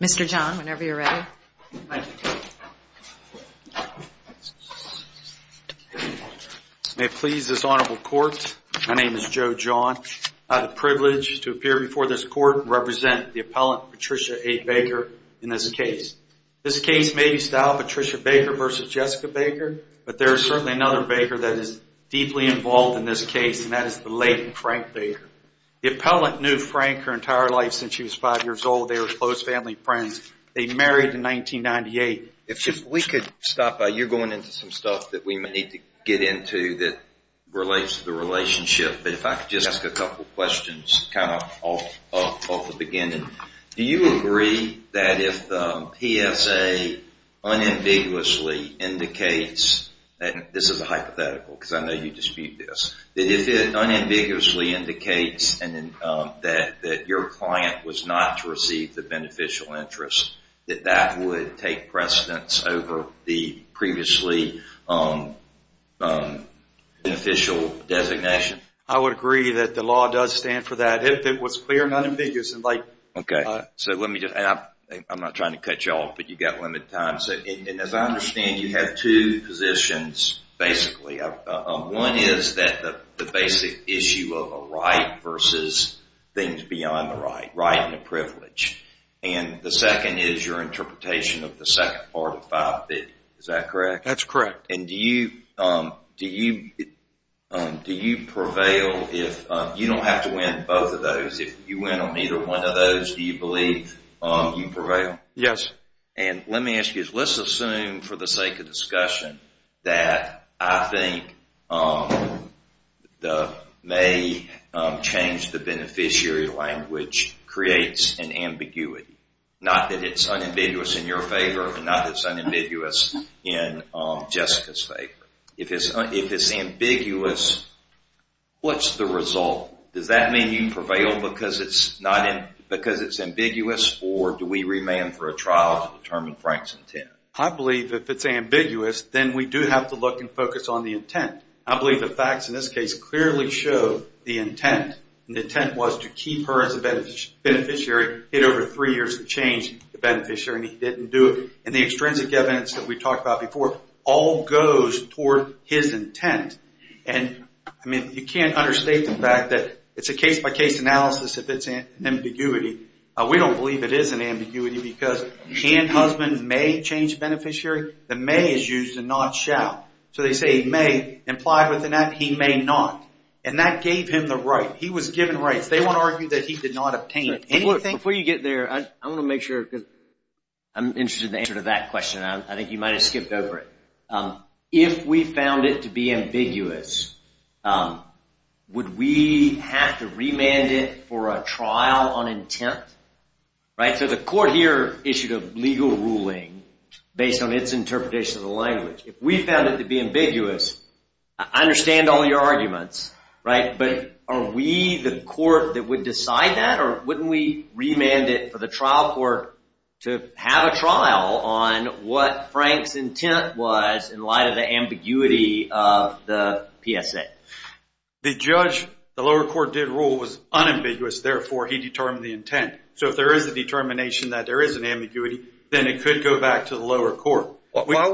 Mr. John, whenever you're ready. May it please this honorable court, my name is Joe John. I have the privilege to appear before this court and represent the appellant, Patricia A. Baker, in this case. This case may be styled Patricia Baker v. Jessica Baker, but there is certainly another Baker that is deeply involved in this case, and that is the late Frank Baker. The appellant knew Frank her entire life since she was five years old. They were close family friends. They married in 1998. If we could stop by, you're going into some stuff that we may need to get into that relates to the relationship, but if I could just ask a couple questions kind of off the beginning. Do you agree that if PSA unambiguously indicates, and this is a hypothetical because I know you dispute this, that if it unambiguously indicates that your client was not to receive the beneficial interest, that that would take precedence over the previously beneficial designation? I would agree that the law does stand for that. If it was clear and unambiguous. Okay. I'm not trying to cut you off, but you've got limited time. As I understand, you have two positions, basically. One is that the basic issue of a right versus things beyond the right, right and a privilege, and the second is your interpretation of the second part of 550. Is that correct? That's correct. Do you prevail if you don't have to win both of those? If you win on either one of those, do you believe you prevail? Yes. Let me ask you this. Let's assume for the sake of discussion that I think the may change the beneficiary language creates an ambiguity. Not that it's unambiguous in your favor and not that it's unambiguous in Jessica's favor. If it's ambiguous, what's the result? Does that mean you prevail because it's ambiguous or do we remand for a trial to determine Frank's intent? I believe if it's ambiguous, then we do have to look and focus on the intent. I believe the facts in this case clearly show the intent. The intent was to keep her as a beneficiary, get over three years of change to the beneficiary, and he didn't do it. And the extrinsic evidence that we talked about before all goes toward his intent. You can't understate the fact that it's a case-by-case analysis if it's an ambiguity. We don't believe it is an ambiguity because can husband may change beneficiary? The may is used to not shall. So they say he may. Implied within that, he may not. And that gave him the right. He was given rights. They won't argue that he did not obtain anything. Before you get there, I want to make sure because I'm interested in the answer to that question. I think you might have skipped over it. If we found it to be ambiguous, would we have to remand it for a trial on intent? So the court here issued a legal ruling based on its interpretation of the language. If we found it to be ambiguous, I understand all your arguments. But are we the court that would decide that? Or wouldn't we remand it for the trial court to have a trial on what Frank's intent was in light of the ambiguity of the PSA? The judge, the lower court, did rule it was unambiguous. Therefore, he determined the intent. So if there is a determination that there is an ambiguity, then it could go back to the lower court. Why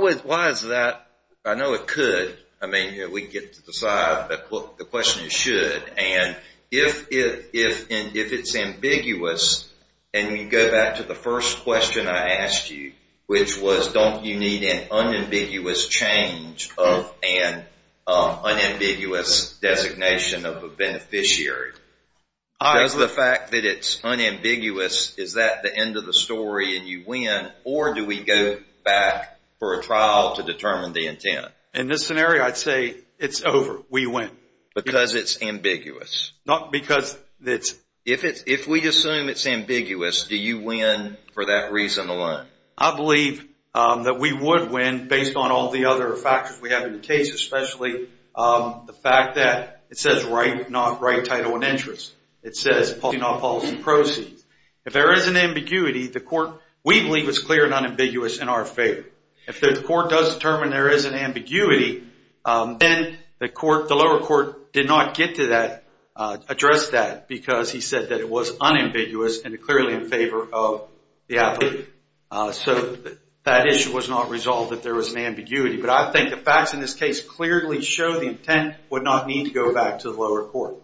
is that? I know it could. I mean, we can get to the side, but the question is should. And if it's ambiguous, and you go back to the first question I asked you, which was don't you need an unambiguous change of an unambiguous designation of a beneficiary? Does the fact that it's unambiguous, is that the end of the story and you win? Or do we go back for a trial to determine the intent? In this scenario, I'd say it's over. We win. Because it's ambiguous. Not because it's. If we assume it's ambiguous, do you win for that reason alone? I believe that we would win based on all the other factors we have in the case, especially the fact that it says right, not right title and interest. It says policy, not policy proceeds. If there is an ambiguity, the court, we believe it's clear and unambiguous in our favor. If the court does determine there is an ambiguity, then the lower court did not get to that, address that, because he said that it was unambiguous and clearly in favor of the applicant. So that issue was not resolved if there was an ambiguity. But I think the facts in this case clearly show the intent would not need to go back to the lower court.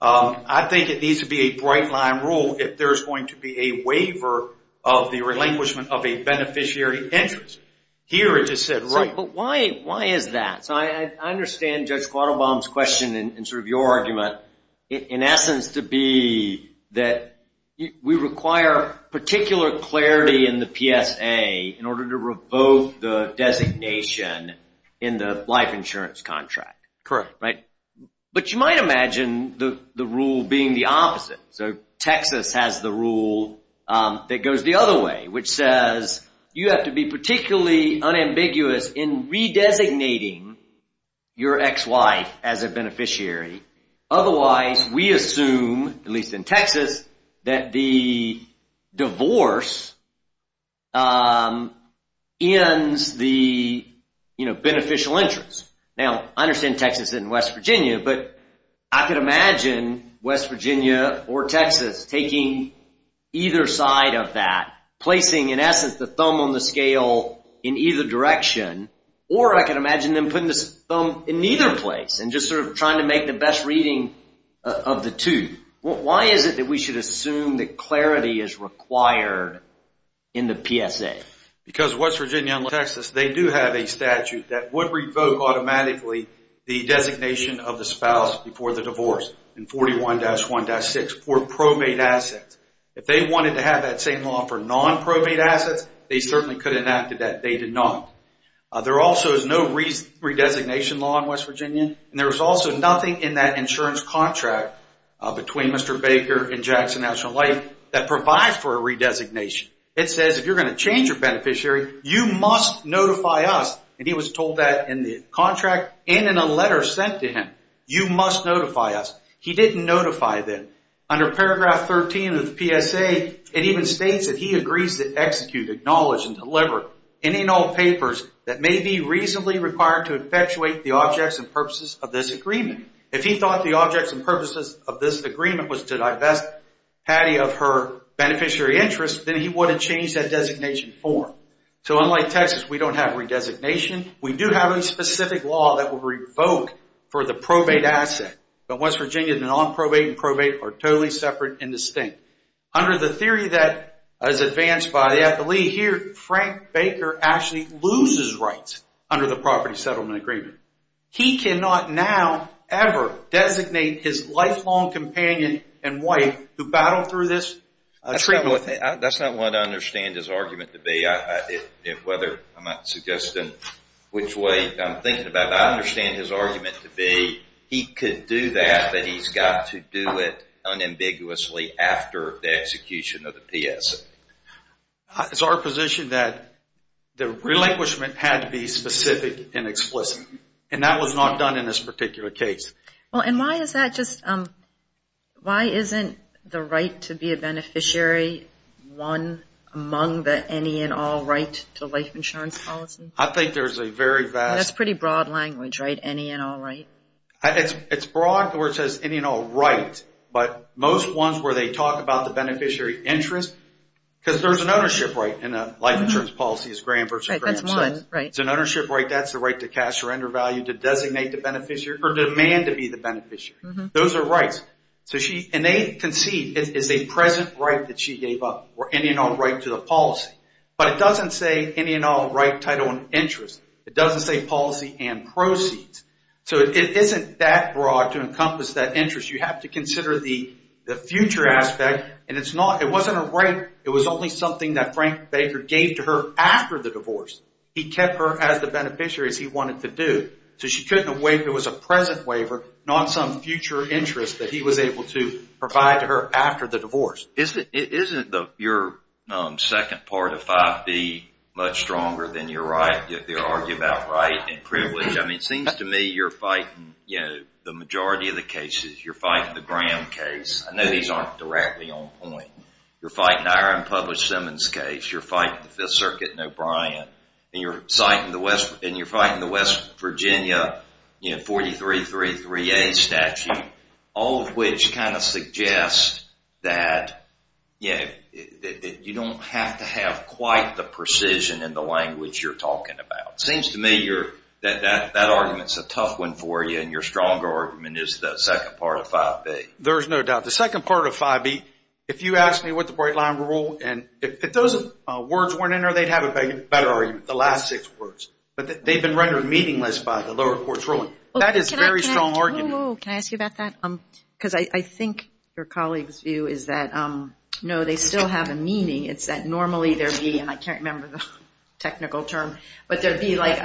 I think it needs to be a bright line rule if there's going to be a waiver of the relinquishment of a beneficiary interest. Here it just said right. But why is that? So I understand Judge Quattlebaum's question and sort of your argument, in essence, to be that we require particular clarity in the PSA in order to revoke the designation in the life insurance contract. Correct. But you might imagine the rule being the opposite. So Texas has the rule that goes the other way, which says you have to be particularly unambiguous in re-designating your ex-wife as a beneficiary. Otherwise, we assume, at least in Texas, that the divorce ends the beneficial interest. Now, I understand Texas isn't West Virginia. But I can imagine West Virginia or Texas taking either side of that, placing, in essence, the thumb on the scale in either direction. Or I can imagine them putting the thumb in either place and just sort of trying to make the best reading of the two. Why is it that we should assume that clarity is required in the PSA? Because West Virginia and Texas, they do have a statute that would revoke automatically the designation of the spouse before the divorce, in 41-1-6, for probate assets. If they wanted to have that same law for non-probate assets, they certainly could have enacted that. They did not. There also is no re-designation law in West Virginia. And there is also nothing in that insurance contract between Mr. Baker and Jackson National Life that provides for a re-designation. It says if you're going to change your beneficiary, you must notify us. And he was told that in the contract and in a letter sent to him. You must notify us. He didn't notify them. Under paragraph 13 of the PSA, it even states that he agrees to execute, acknowledge, and deliver any and all papers that may be reasonably required to infatuate the objects and purposes of this agreement. If he thought the objects and purposes of this agreement was to divest Patty of her beneficiary interest, then he would have changed that designation form. So unlike Texas, we don't have re-designation. We do have a specific law that would revoke for the probate asset. But West Virginia, the non-probate and probate are totally separate and distinct. Under the theory that was advanced by the FLE here, Frank Baker actually loses rights under the property settlement agreement. He cannot now ever designate his lifelong companion and wife who battled through this treatment. That's not what I understand his argument to be. Whether I'm suggesting which way I'm thinking about it, I understand his argument to be he could do that, but he's got to do it unambiguously after the execution of the PSA. It's our position that the relinquishment had to be specific and explicit, and that was not done in this particular case. Why isn't the right to be a beneficiary one among the any and all right to life insurance policy? I think there's a very vast... That's pretty broad language, right? Any and all right? It's broad where it says any and all right, but most ones where they talk about the beneficiary interest, because there's an ownership right in a life insurance policy. It's Graham versus Graham. That's mine. It's an ownership right. That's the right to cash, surrender value, to designate the beneficiary, or demand to be the beneficiary. Those are rights, and they concede it's a present right that she gave up, or any and all right to the policy. But it doesn't say any and all right, title, and interest. It doesn't say policy and proceeds. So it isn't that broad to encompass that interest. You have to consider the future aspect, and it wasn't a right. It was only something that Frank Baker gave to her after the divorce. He kept her as the beneficiary as he wanted to do. So she couldn't have waived. It was a present waiver, not some future interest that he was able to provide to her after the divorce. Isn't your second part of 5B much stronger than your right to argue about right and privilege? I mean, it seems to me you're fighting the majority of the cases. You're fighting the Graham case. I know these aren't directly on point. You're fighting the Aaron Publish Simmons case. You're fighting the Fifth Circuit and O'Brien, and you're fighting the West Virginia 4333A statute, all of which kind of suggest that you don't have to have quite the precision in the language you're talking about. It seems to me that argument's a tough one for you, and your stronger argument is the second part of 5B. There's no doubt. The second part of 5B, if you ask me what the Bright Line Rule, and if those words weren't in there, they'd have a better argument, the last six words. But they've been rendered meaningless by the lower court's ruling. That is a very strong argument. Can I ask you about that? Because I think your colleague's view is that, no, they still have a meaning. It's that normally there would be, and I can't remember the technical term, but there would be like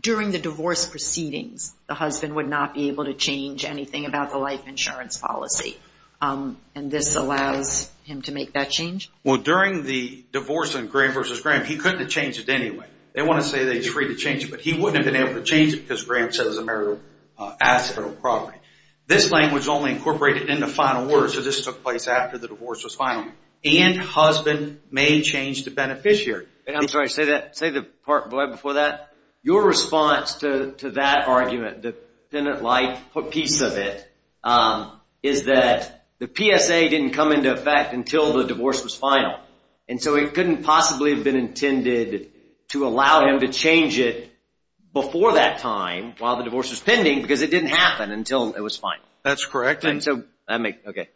during the divorce proceedings, the husband would not be able to change anything about the life insurance policy, and this allows him to make that change? Well, during the divorce in Graham v. Graham, he couldn't have changed it anyway. They want to say that he's free to change it, but he wouldn't have been able to change it because Graham says it's a marital asset or property. This claim was only incorporated in the final word, so this took place after the divorce was final, and husband may change the beneficiary. I'm sorry, say the part before that. Your response to that argument, the defendant liked a piece of it, is that the PSA didn't come into effect until the divorce was final, and so it couldn't possibly have been intended to allow him to change it before that time while the divorce was pending because it didn't happen until it was final. That's correct. Okay.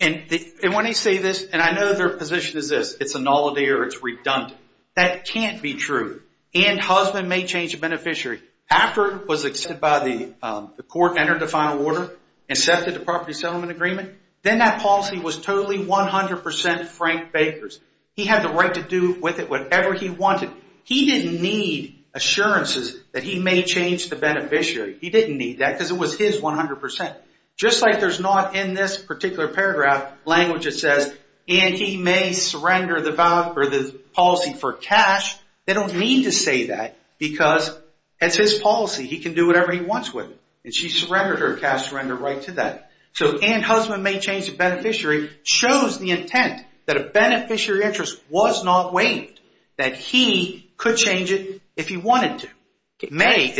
And when they say this, and I know their position is this. It's a nullity or it's redundant. That can't be true, and husband may change the beneficiary. After it was accepted by the court, entered the final order, accepted the property settlement agreement, then that policy was totally 100% Frank Baker's. He had the right to do with it whatever he wanted. He didn't need assurances that he may change the beneficiary. He didn't need that because it was his 100%. Just like there's not in this particular paragraph language that says, and he may surrender the policy for cash, they don't need to say that because it's his policy. He can do whatever he wants with it, and she surrendered her cash surrender right to that. So and husband may change the beneficiary shows the intent that a beneficiary interest was not waived, that he could change it if he wanted to. May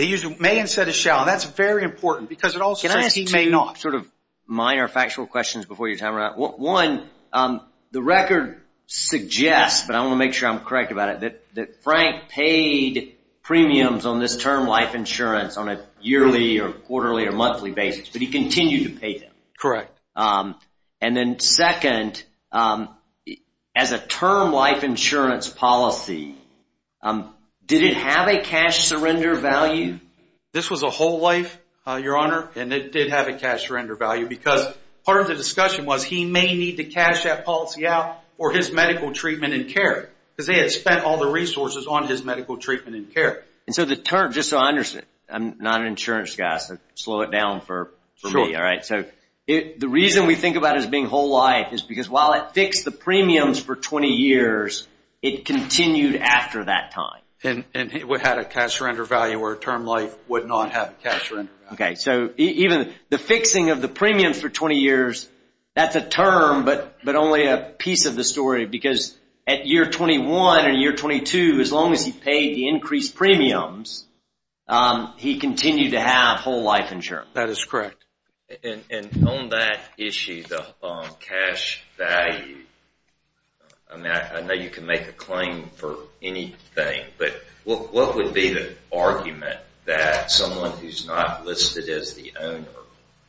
instead of shall. That's very important because it also says he may not. Can I ask two sort of minor factual questions before your time runs out? One, the record suggests, but I want to make sure I'm correct about it, that Frank paid premiums on this term life insurance on a yearly or quarterly or monthly basis, but he continued to pay them. Correct. And then second, as a term life insurance policy, did it have a cash surrender value? This was a whole life, Your Honor, and it did have a cash surrender value because part of the discussion was he may need to cash that policy out for his medical treatment and care because they had spent all the resources on his medical treatment and care. And so the term, just so I understand, I'm not an insurance guy, so slow it down for me, all right? Sure. So the reason we think about it as being whole life is because while it fixed the premiums for 20 years, it continued after that time. And it had a cash surrender value where a term life would not have a cash surrender value. Okay. So even the fixing of the premiums for 20 years, that's a term but only a piece of the story because at year 21 or year 22, as long as he paid the increased premiums, he continued to have whole life insurance. That is correct. And on that issue, the cash value, I know you can make a claim for anything, but what would be the argument that someone who's not listed as the owner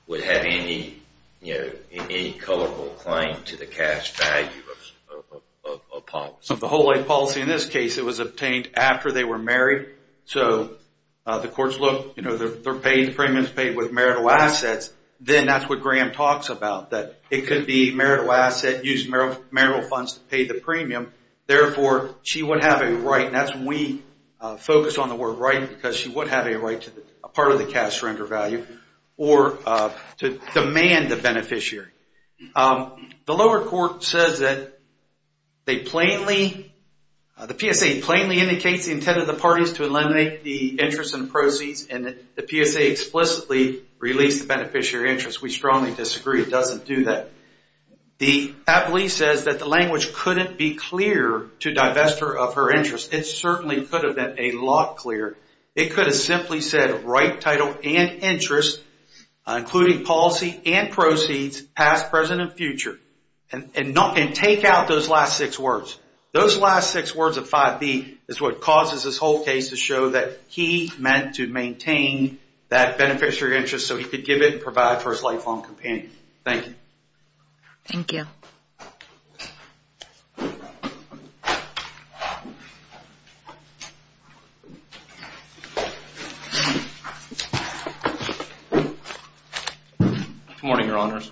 would have any, you know, any colorful claim to the cash value of a policy? Of the whole life policy in this case, it was obtained after they were married. So the courts look, you know, they're paying the premiums paid with marital assets. Then that's what Graham talks about, that it could be marital asset, used marital funds to pay the premium. Therefore, she would have a right, and that's when we focus on the word right because she would have a right to a part of the cash surrender value or to demand the beneficiary. The lower court says that they plainly, the PSA plainly indicates the intent of the parties to eliminate the interest and proceeds, and the PSA explicitly released the beneficiary interest. We strongly disagree. It doesn't do that. The appellee says that the language couldn't be clear to divest her of her interest. It certainly could have been a lot clearer. It could have simply said right title and interest, including policy and proceeds, past, present, and future, and take out those last six words. Those last six words of 5B is what causes this whole case to show that he meant to maintain that beneficiary interest so he could give it and provide for his lifelong companion. Thank you. Thank you. Good morning, Your Honors.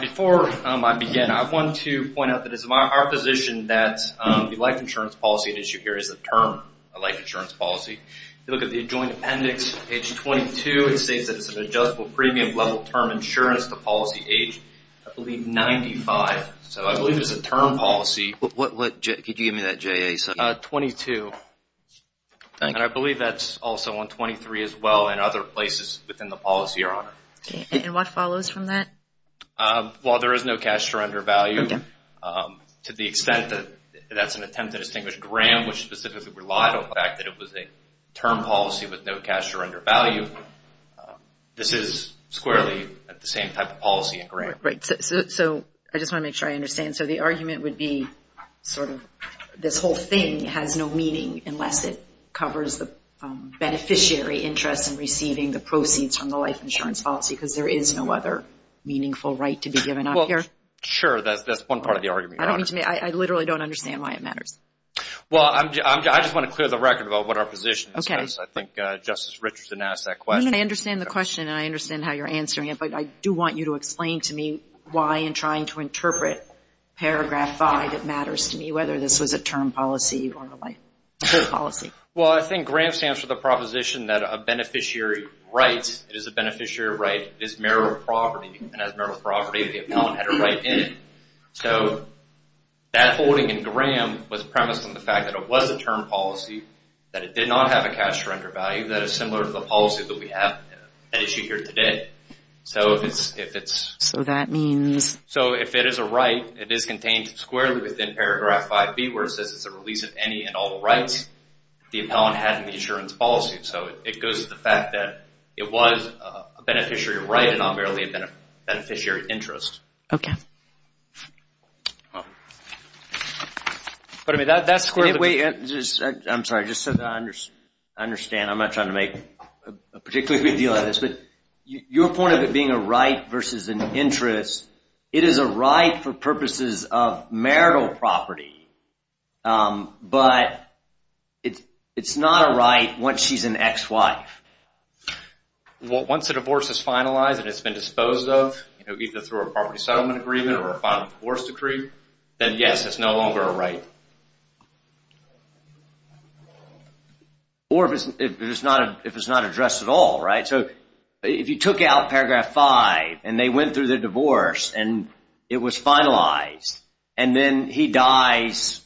Before I begin, I want to point out that it is our position that the life insurance policy at issue here is the term life insurance policy. If you look at the adjoined appendix, page 22, it states that it's an adjustable premium level term insurance to policy age, I believe, 95. So I believe it's a term policy. Could you give me that, J.A.? 22. And I believe that's also on 23 as well and other places within the policy, Your Honor. And what follows from that? While there is no cash surrender value, to the extent that that's an attempt to distinguish Graham, which specifically relied on the fact that it was a term policy with no cash surrender value, this is squarely the same type of policy in Graham. So I just want to make sure I understand. So the argument would be sort of this whole thing has no meaning unless it covers the beneficiary interest in receiving the proceeds from the life insurance policy because there is no other meaningful right to be given up here? Sure, that's one part of the argument, Your Honor. I literally don't understand why it matters. Well, I just want to clear the record about what our position is. Okay. Because I think Justice Richardson asked that question. I understand the question and I understand how you're answering it, but I do want you to explain to me why in trying to interpret Paragraph 5 it matters to me, whether this was a term policy or a life insurance policy. Well, I think Graham stands for the proposition that a beneficiary right is a beneficiary right. It is meritorious property. And as meritorious property, the appellant had a right in it. So that holding in Graham was premised on the fact that it was a term policy, that it did not have a cash surrender value that is similar to the policy that we have at issue here today. So if it's a right, it is contained squarely within Paragraph 5B where it says it's a release of any and all rights the appellant had in the insurance policy. So it goes to the fact that it was a beneficiary right and not merely a beneficiary interest. Okay. I'm sorry. I just said that I understand. I'm not trying to make a particularly big deal out of this, but your point of it being a right versus an interest, it is a right for purposes of marital property, but it's not a right once she's an ex-wife. Once a divorce is finalized and it's been disposed of, either through a property settlement agreement or a final divorce decree, then yes, it's no longer a right. Or if it's not addressed at all, right? So if you took out Paragraph 5 and they went through the divorce and it was finalized and then he dies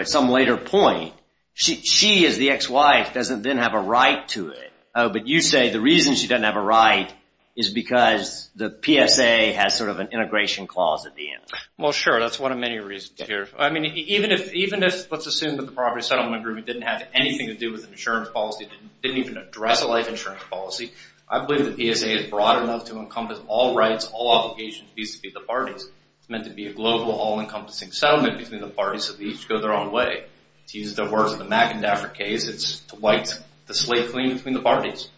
at some later point, she as the ex-wife doesn't then have a right to it. Oh, but you say the reason she doesn't have a right is because the PSA has sort of an integration clause at the end. Well, sure. That's one of many reasons here. I mean, even if let's assume that the property settlement agreement didn't have anything to do with the insurance policy, didn't even address a life insurance policy, I believe the PSA is broad enough to encompass all rights, all obligations, fees to be the parties. It's meant to be a global, all-encompassing settlement between the parties so they each go their own way. To use the words of the Mac and Daffer case, it's to wipe the slate clean between the parties.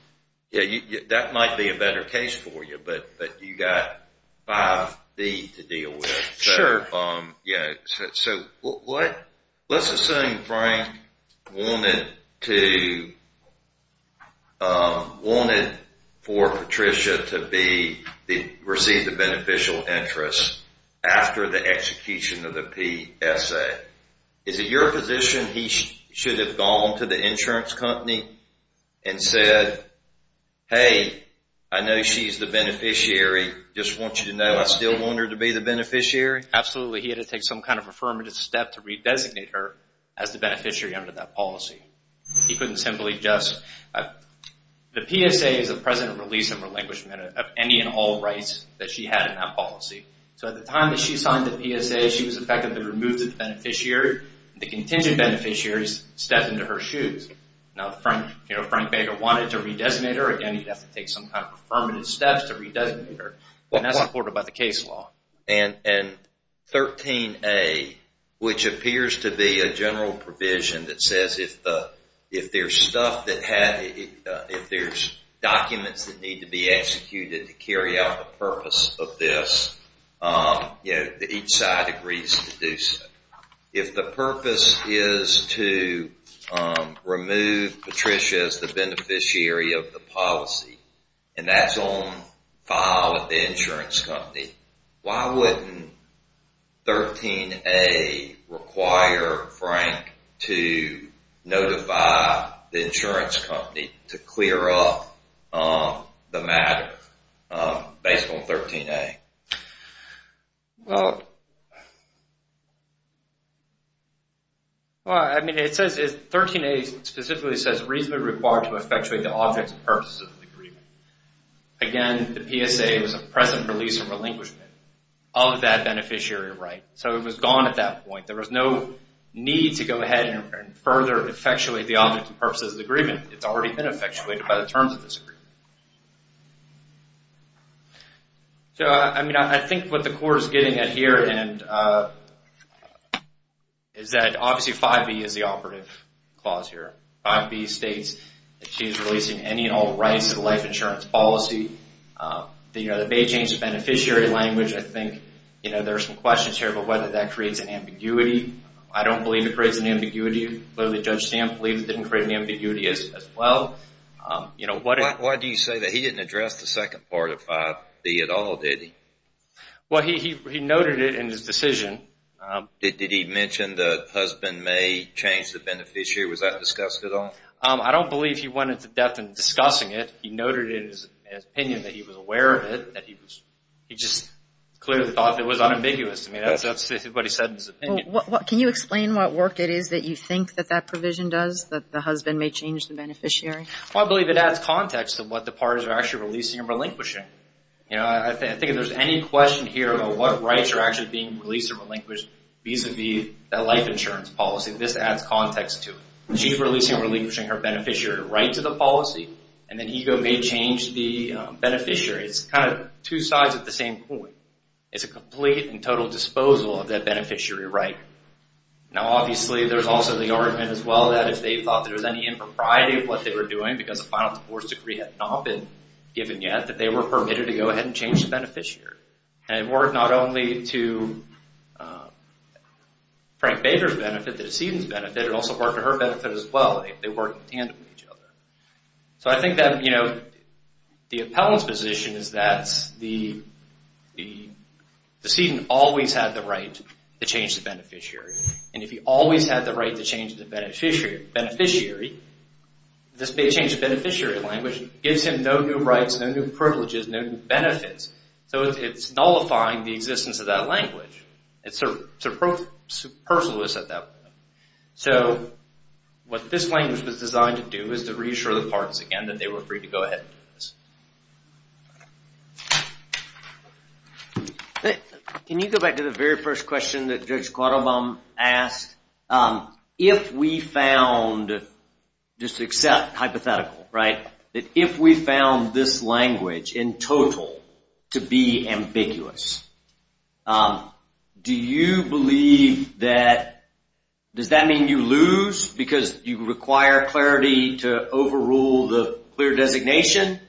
Yeah, that might be a better case for you, but you've got 5B to deal with. Sure. So let's assume Frank wanted for Patricia to receive the beneficial interest after the execution of the PSA. Is it your position he should have gone to the insurance company and said, Hey, I know she's the beneficiary. Just want you to know I still want her to be the beneficiary? Absolutely. He had to take some kind of affirmative step to redesignate her as the beneficiary under that policy. He couldn't simply just – the PSA is a present release and relinquishment of any and all rights that she had in that policy. So at the time that she signed the PSA, she was effectively removed as the beneficiary. The contingent beneficiaries stepped into her shoes. Now, if Frank Baker wanted to redesignate her, again, he'd have to take some kind of affirmative steps to redesignate her. And that's supported by the case law. And 13A, which appears to be a general provision that says if there's stuff that – if there's documents that need to be executed to carry out the purpose of this, each side agrees to do so. If the purpose is to remove Patricia as the beneficiary of the policy and that's on file at the insurance company, why wouldn't 13A require Frank to notify the insurance company to clear up the matter based on 13A? Well, I mean, it says – 13A specifically says reasonably required to effectuate the objects and purposes of the agreement. Again, the PSA was a present release and relinquishment of that beneficiary right. So it was gone at that point. There was no need to go ahead and further effectuate the objects and purposes of the agreement. It's already been effectuated by the terms of this agreement. So, I mean, I think what the court is getting at here is that, obviously, 5B is the operative clause here. 5B states that she's releasing any and all rights to the life insurance policy. The Beijing's beneficiary language, I think, you know, there are some questions here about whether that creates an ambiguity. I don't believe it creates an ambiguity. I believe it didn't create any ambiguity as well. Why do you say that? He didn't address the second part of 5B at all, did he? Well, he noted it in his decision. Did he mention the husband may change the beneficiary? Was that discussed at all? I don't believe he went into depth in discussing it. He noted it in his opinion that he was aware of it. He just clearly thought it was unambiguous. I mean, that's what he said in his opinion. Can you explain what work it is that you think that that provision does, that the husband may change the beneficiary? Well, I believe it adds context to what the parties are actually releasing and relinquishing. You know, I think if there's any question here about what rights are actually being released or relinquished vis-à-vis that life insurance policy, this adds context to it. She's releasing or relinquishing her beneficiary right to the policy, and then EGLE may change the beneficiary. It's kind of two sides of the same coin. It's a complete and total disposal of that beneficiary right. Now, obviously, there's also the argument as well that if they thought there was any impropriety of what they were doing because the final divorce decree had not been given yet, that they were permitted to go ahead and change the beneficiary. And it worked not only to Frank Bader's benefit, the decedent's benefit. It also worked to her benefit as well. They worked in tandem with each other. So I think that, you know, the appellant's position is that the decedent always had the right to change the beneficiary. And if he always had the right to change the beneficiary, this may change the beneficiary language. It gives him no new rights, no new privileges, no new benefits. So it's nullifying the existence of that language. It's superfluous at that point. So what this language was designed to do is to reassure the parties again that they were free to go ahead and do this. Can you go back to the very first question that Judge Quattlebaum asked? If we found, just accept hypothetical, right, that if we found this language in total to be ambiguous, do you believe that, does that mean you lose because you require clarity to overrule the clear designation?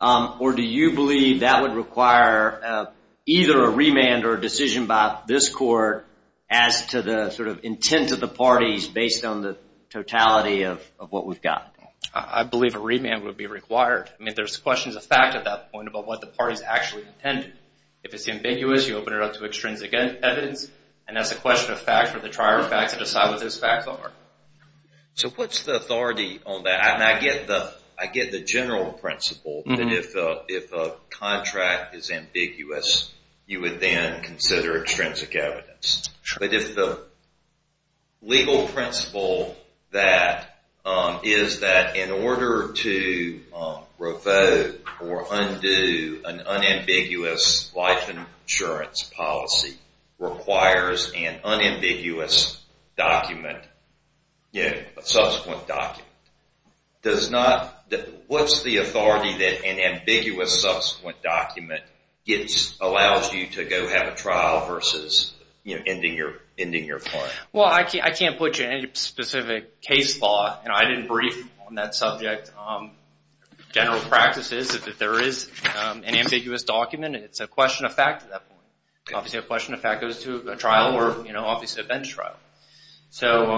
Or do you believe that would require either a remand or a decision by this court as to the sort of intent of the parties based on the totality of what we've got? I believe a remand would be required. I mean, there's questions of fact at that point about what the parties actually intended. If it's ambiguous, you open it up to extrinsic evidence. And that's a question of fact for the trier of fact to decide what those facts are. So what's the authority on that? And I get the general principle that if a contract is ambiguous, you would then consider extrinsic evidence. But if the legal principle that is that in order to revoke or undo an unambiguous life insurance policy requires an unambiguous document, a subsequent document, does not, what's the authority that an ambiguous subsequent document allows you to go have a trial versus ending your client? Well, I can't put you in any specific case law. And I didn't brief on that subject. General practice is that if there is an ambiguous document, it's a question of fact at that point. Obviously, a question of fact goes to a trial or obviously a bench trial. So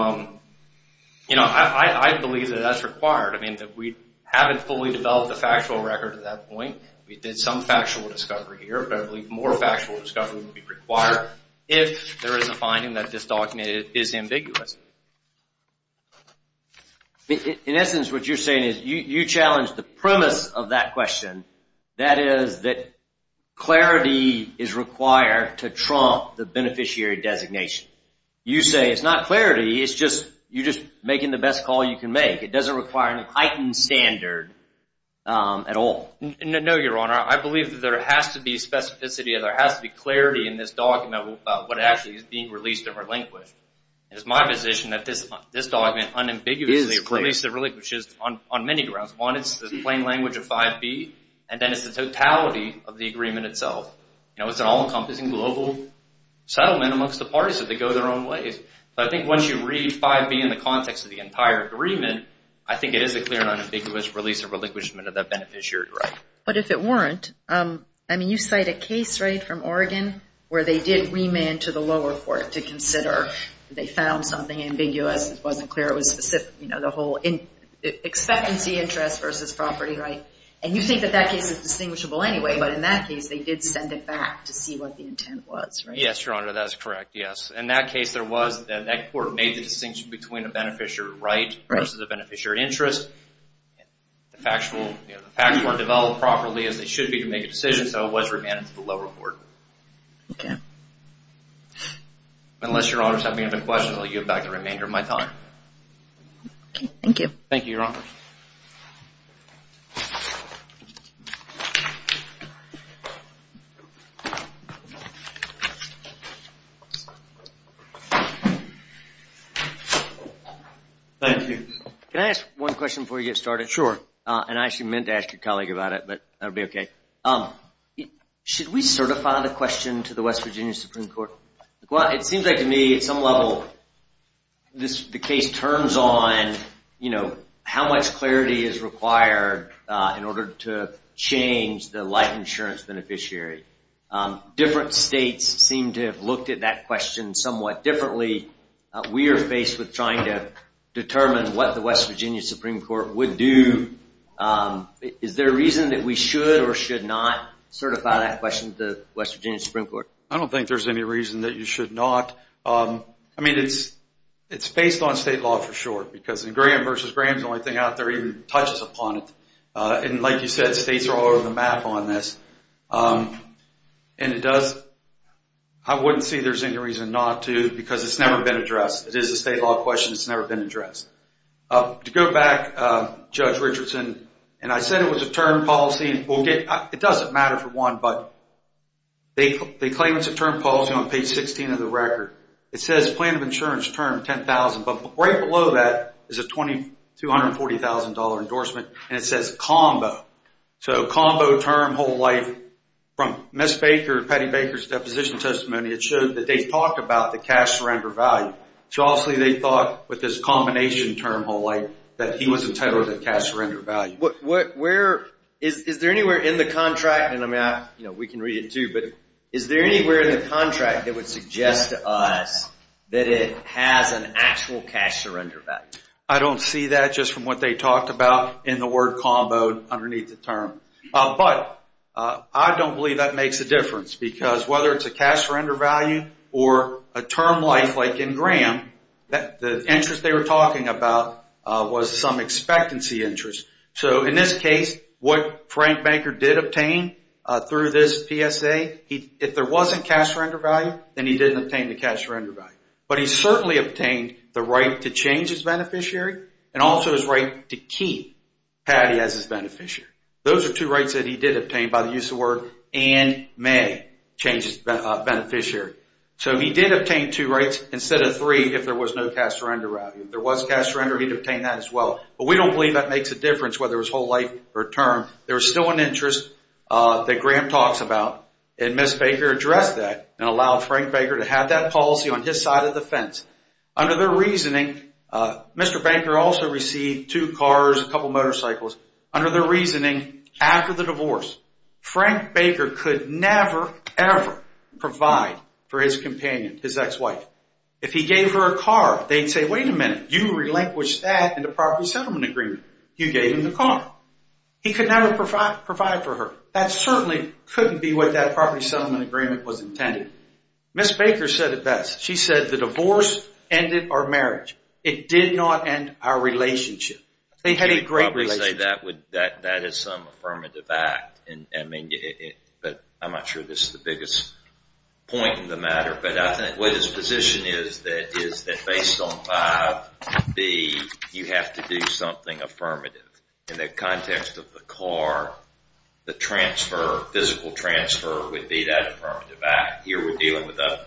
I believe that that's required. I mean, we haven't fully developed a factual record at that point. We did some factual discovery here. But I believe more factual discovery would be required if there is a finding that this document is ambiguous. In essence, what you're saying is you challenge the premise of that question. That is that clarity is required to trump the beneficiary designation. You say it's not clarity, it's just you're just making the best call you can make. It doesn't require an heightened standard at all. No, Your Honor. I believe that there has to be specificity and there has to be clarity in this document about what actually is being released or relinquished. It is my position that this document unambiguously releases or relinquishes on many grounds. One, it's the plain language of 5B, and then it's the totality of the agreement itself. It's an all-encompassing global settlement amongst the parties, so they go their own ways. But I think once you read 5B in the context of the entire agreement, I think it is a clear and unambiguous release or relinquishment of that beneficiary right. But if it weren't, I mean, you cite a case, right, from Oregon where they did remand to the lower court to consider. They found something ambiguous. It wasn't clear. It was specific, you know, the whole expectancy interest versus property right. And you think that that case is distinguishable anyway, but in that case, they did send it back to see what the intent was, right? Yes, Your Honor, that is correct, yes. In that case, there was, that court made the distinction between a beneficiary right versus a beneficiary interest. The facts weren't developed properly as they should be to make a decision, so it was remanded to the lower court. Okay. Unless Your Honors have any other questions, I'll give back the remainder of my time. Okay, thank you. Thank you, Your Honor. Thank you. Can I ask one question before we get started? Sure. And I actually meant to ask your colleague about it, but that will be okay. Should we certify the question to the West Virginia Supreme Court? It seems like to me at some level the case turns on, you know, how much clarity is required in order to change the life insurance beneficiary. Different states seem to have looked at that question somewhat differently. We are faced with trying to determine what the West Virginia Supreme Court would do. Is there a reason that we should or should not certify that question to the West Virginia Supreme Court? I don't think there's any reason that you should not. I mean, it's based on state law for sure, because in Graham versus Graham, the only thing out there even touches upon it. And like you said, states are all over the map on this. And I wouldn't say there's any reason not to, because it's never been addressed. It is a state law question. It's never been addressed. To go back, Judge Richardson, and I said it was a term policy. It doesn't matter for one, but they claim it's a term policy on page 16 of the record. It says plan of insurance term $10,000, but right below that is a $240,000 endorsement. And it says combo. So combo term whole life. From Ms. Baker, Patty Baker's deposition testimony, it showed that they talked about the cash surrender value. So obviously they thought with this combination term whole life that he was entitled to cash surrender value. Is there anywhere in the contract, and I mean, we can read it too, but is there anywhere in the contract that would suggest to us that it has an actual cash surrender value? I don't see that just from what they talked about in the word combo underneath the term. But I don't believe that makes a difference, because whether it's a cash surrender value or a term life like in Graham, the interest they were talking about was some expectancy interest. So in this case, what Frank Baker did obtain through this PSA, if there wasn't cash surrender value, then he didn't obtain the cash surrender value. But he certainly obtained the right to change his beneficiary and also his right to keep Patty as his beneficiary. Those are two rights that he did obtain by the use of the word and may change his beneficiary. So he did obtain two rights instead of three if there was no cash surrender value. If there was cash surrender, he'd obtain that as well. But we don't believe that makes a difference whether it's whole life or term. There's still an interest that Graham talks about, and Ms. Baker addressed that and allowed Frank Baker to have that policy on his side of the fence. Under their reasoning, Mr. Baker also received two cars, a couple motorcycles. Under their reasoning, after the divorce, Frank Baker could never, ever provide for his companion, his ex-wife. If he gave her a car, they'd say, wait a minute, you relinquished that in the property settlement agreement. You gave him the car. He could never provide for her. That certainly couldn't be what that property settlement agreement was intended. Ms. Baker said it best. She said the divorce ended our marriage. It did not end our relationship. They had a great relationship. That is some affirmative act, but I'm not sure this is the biggest point in the matter. But I think what his position is that based on 5B, you have to do something affirmative. In the context of the car, the transfer, physical transfer would be that affirmative act. Here we're dealing with a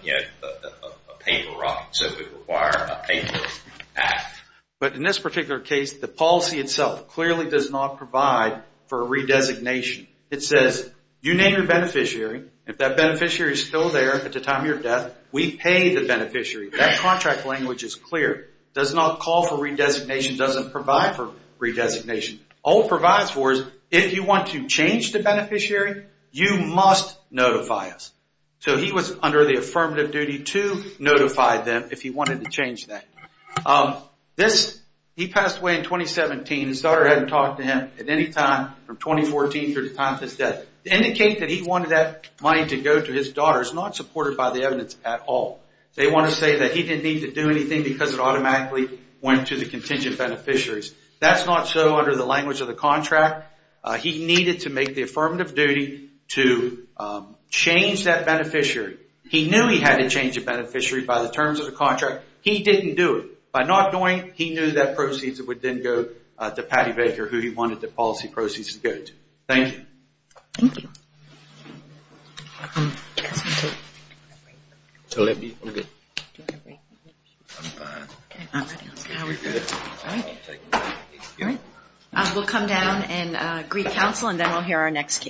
paper route, so it would require a paper act. But in this particular case, the policy itself clearly does not provide for a redesignation. It says you name your beneficiary. If that beneficiary is still there at the time of your death, we pay the beneficiary. That contract language is clear. It does not call for redesignation. It doesn't provide for redesignation. All it provides for is if you want to change the beneficiary, you must notify us. So he was under the affirmative duty to notify them if he wanted to change that. He passed away in 2017. His daughter hadn't talked to him at any time from 2014 through the time of his death. To indicate that he wanted that money to go to his daughter is not supported by the evidence at all. They want to say that he didn't need to do anything because it automatically went to the contingent beneficiaries. That's not so under the language of the contract. He needed to make the affirmative duty to change that beneficiary. He knew he had to change the beneficiary by the terms of the contract. He didn't do it. By not doing it, he knew that proceeds would then go to Patty Baker, who he wanted the policy proceeds to go to. Thank you. Thank you. We'll come down and greet counsel and then we'll hear our next case.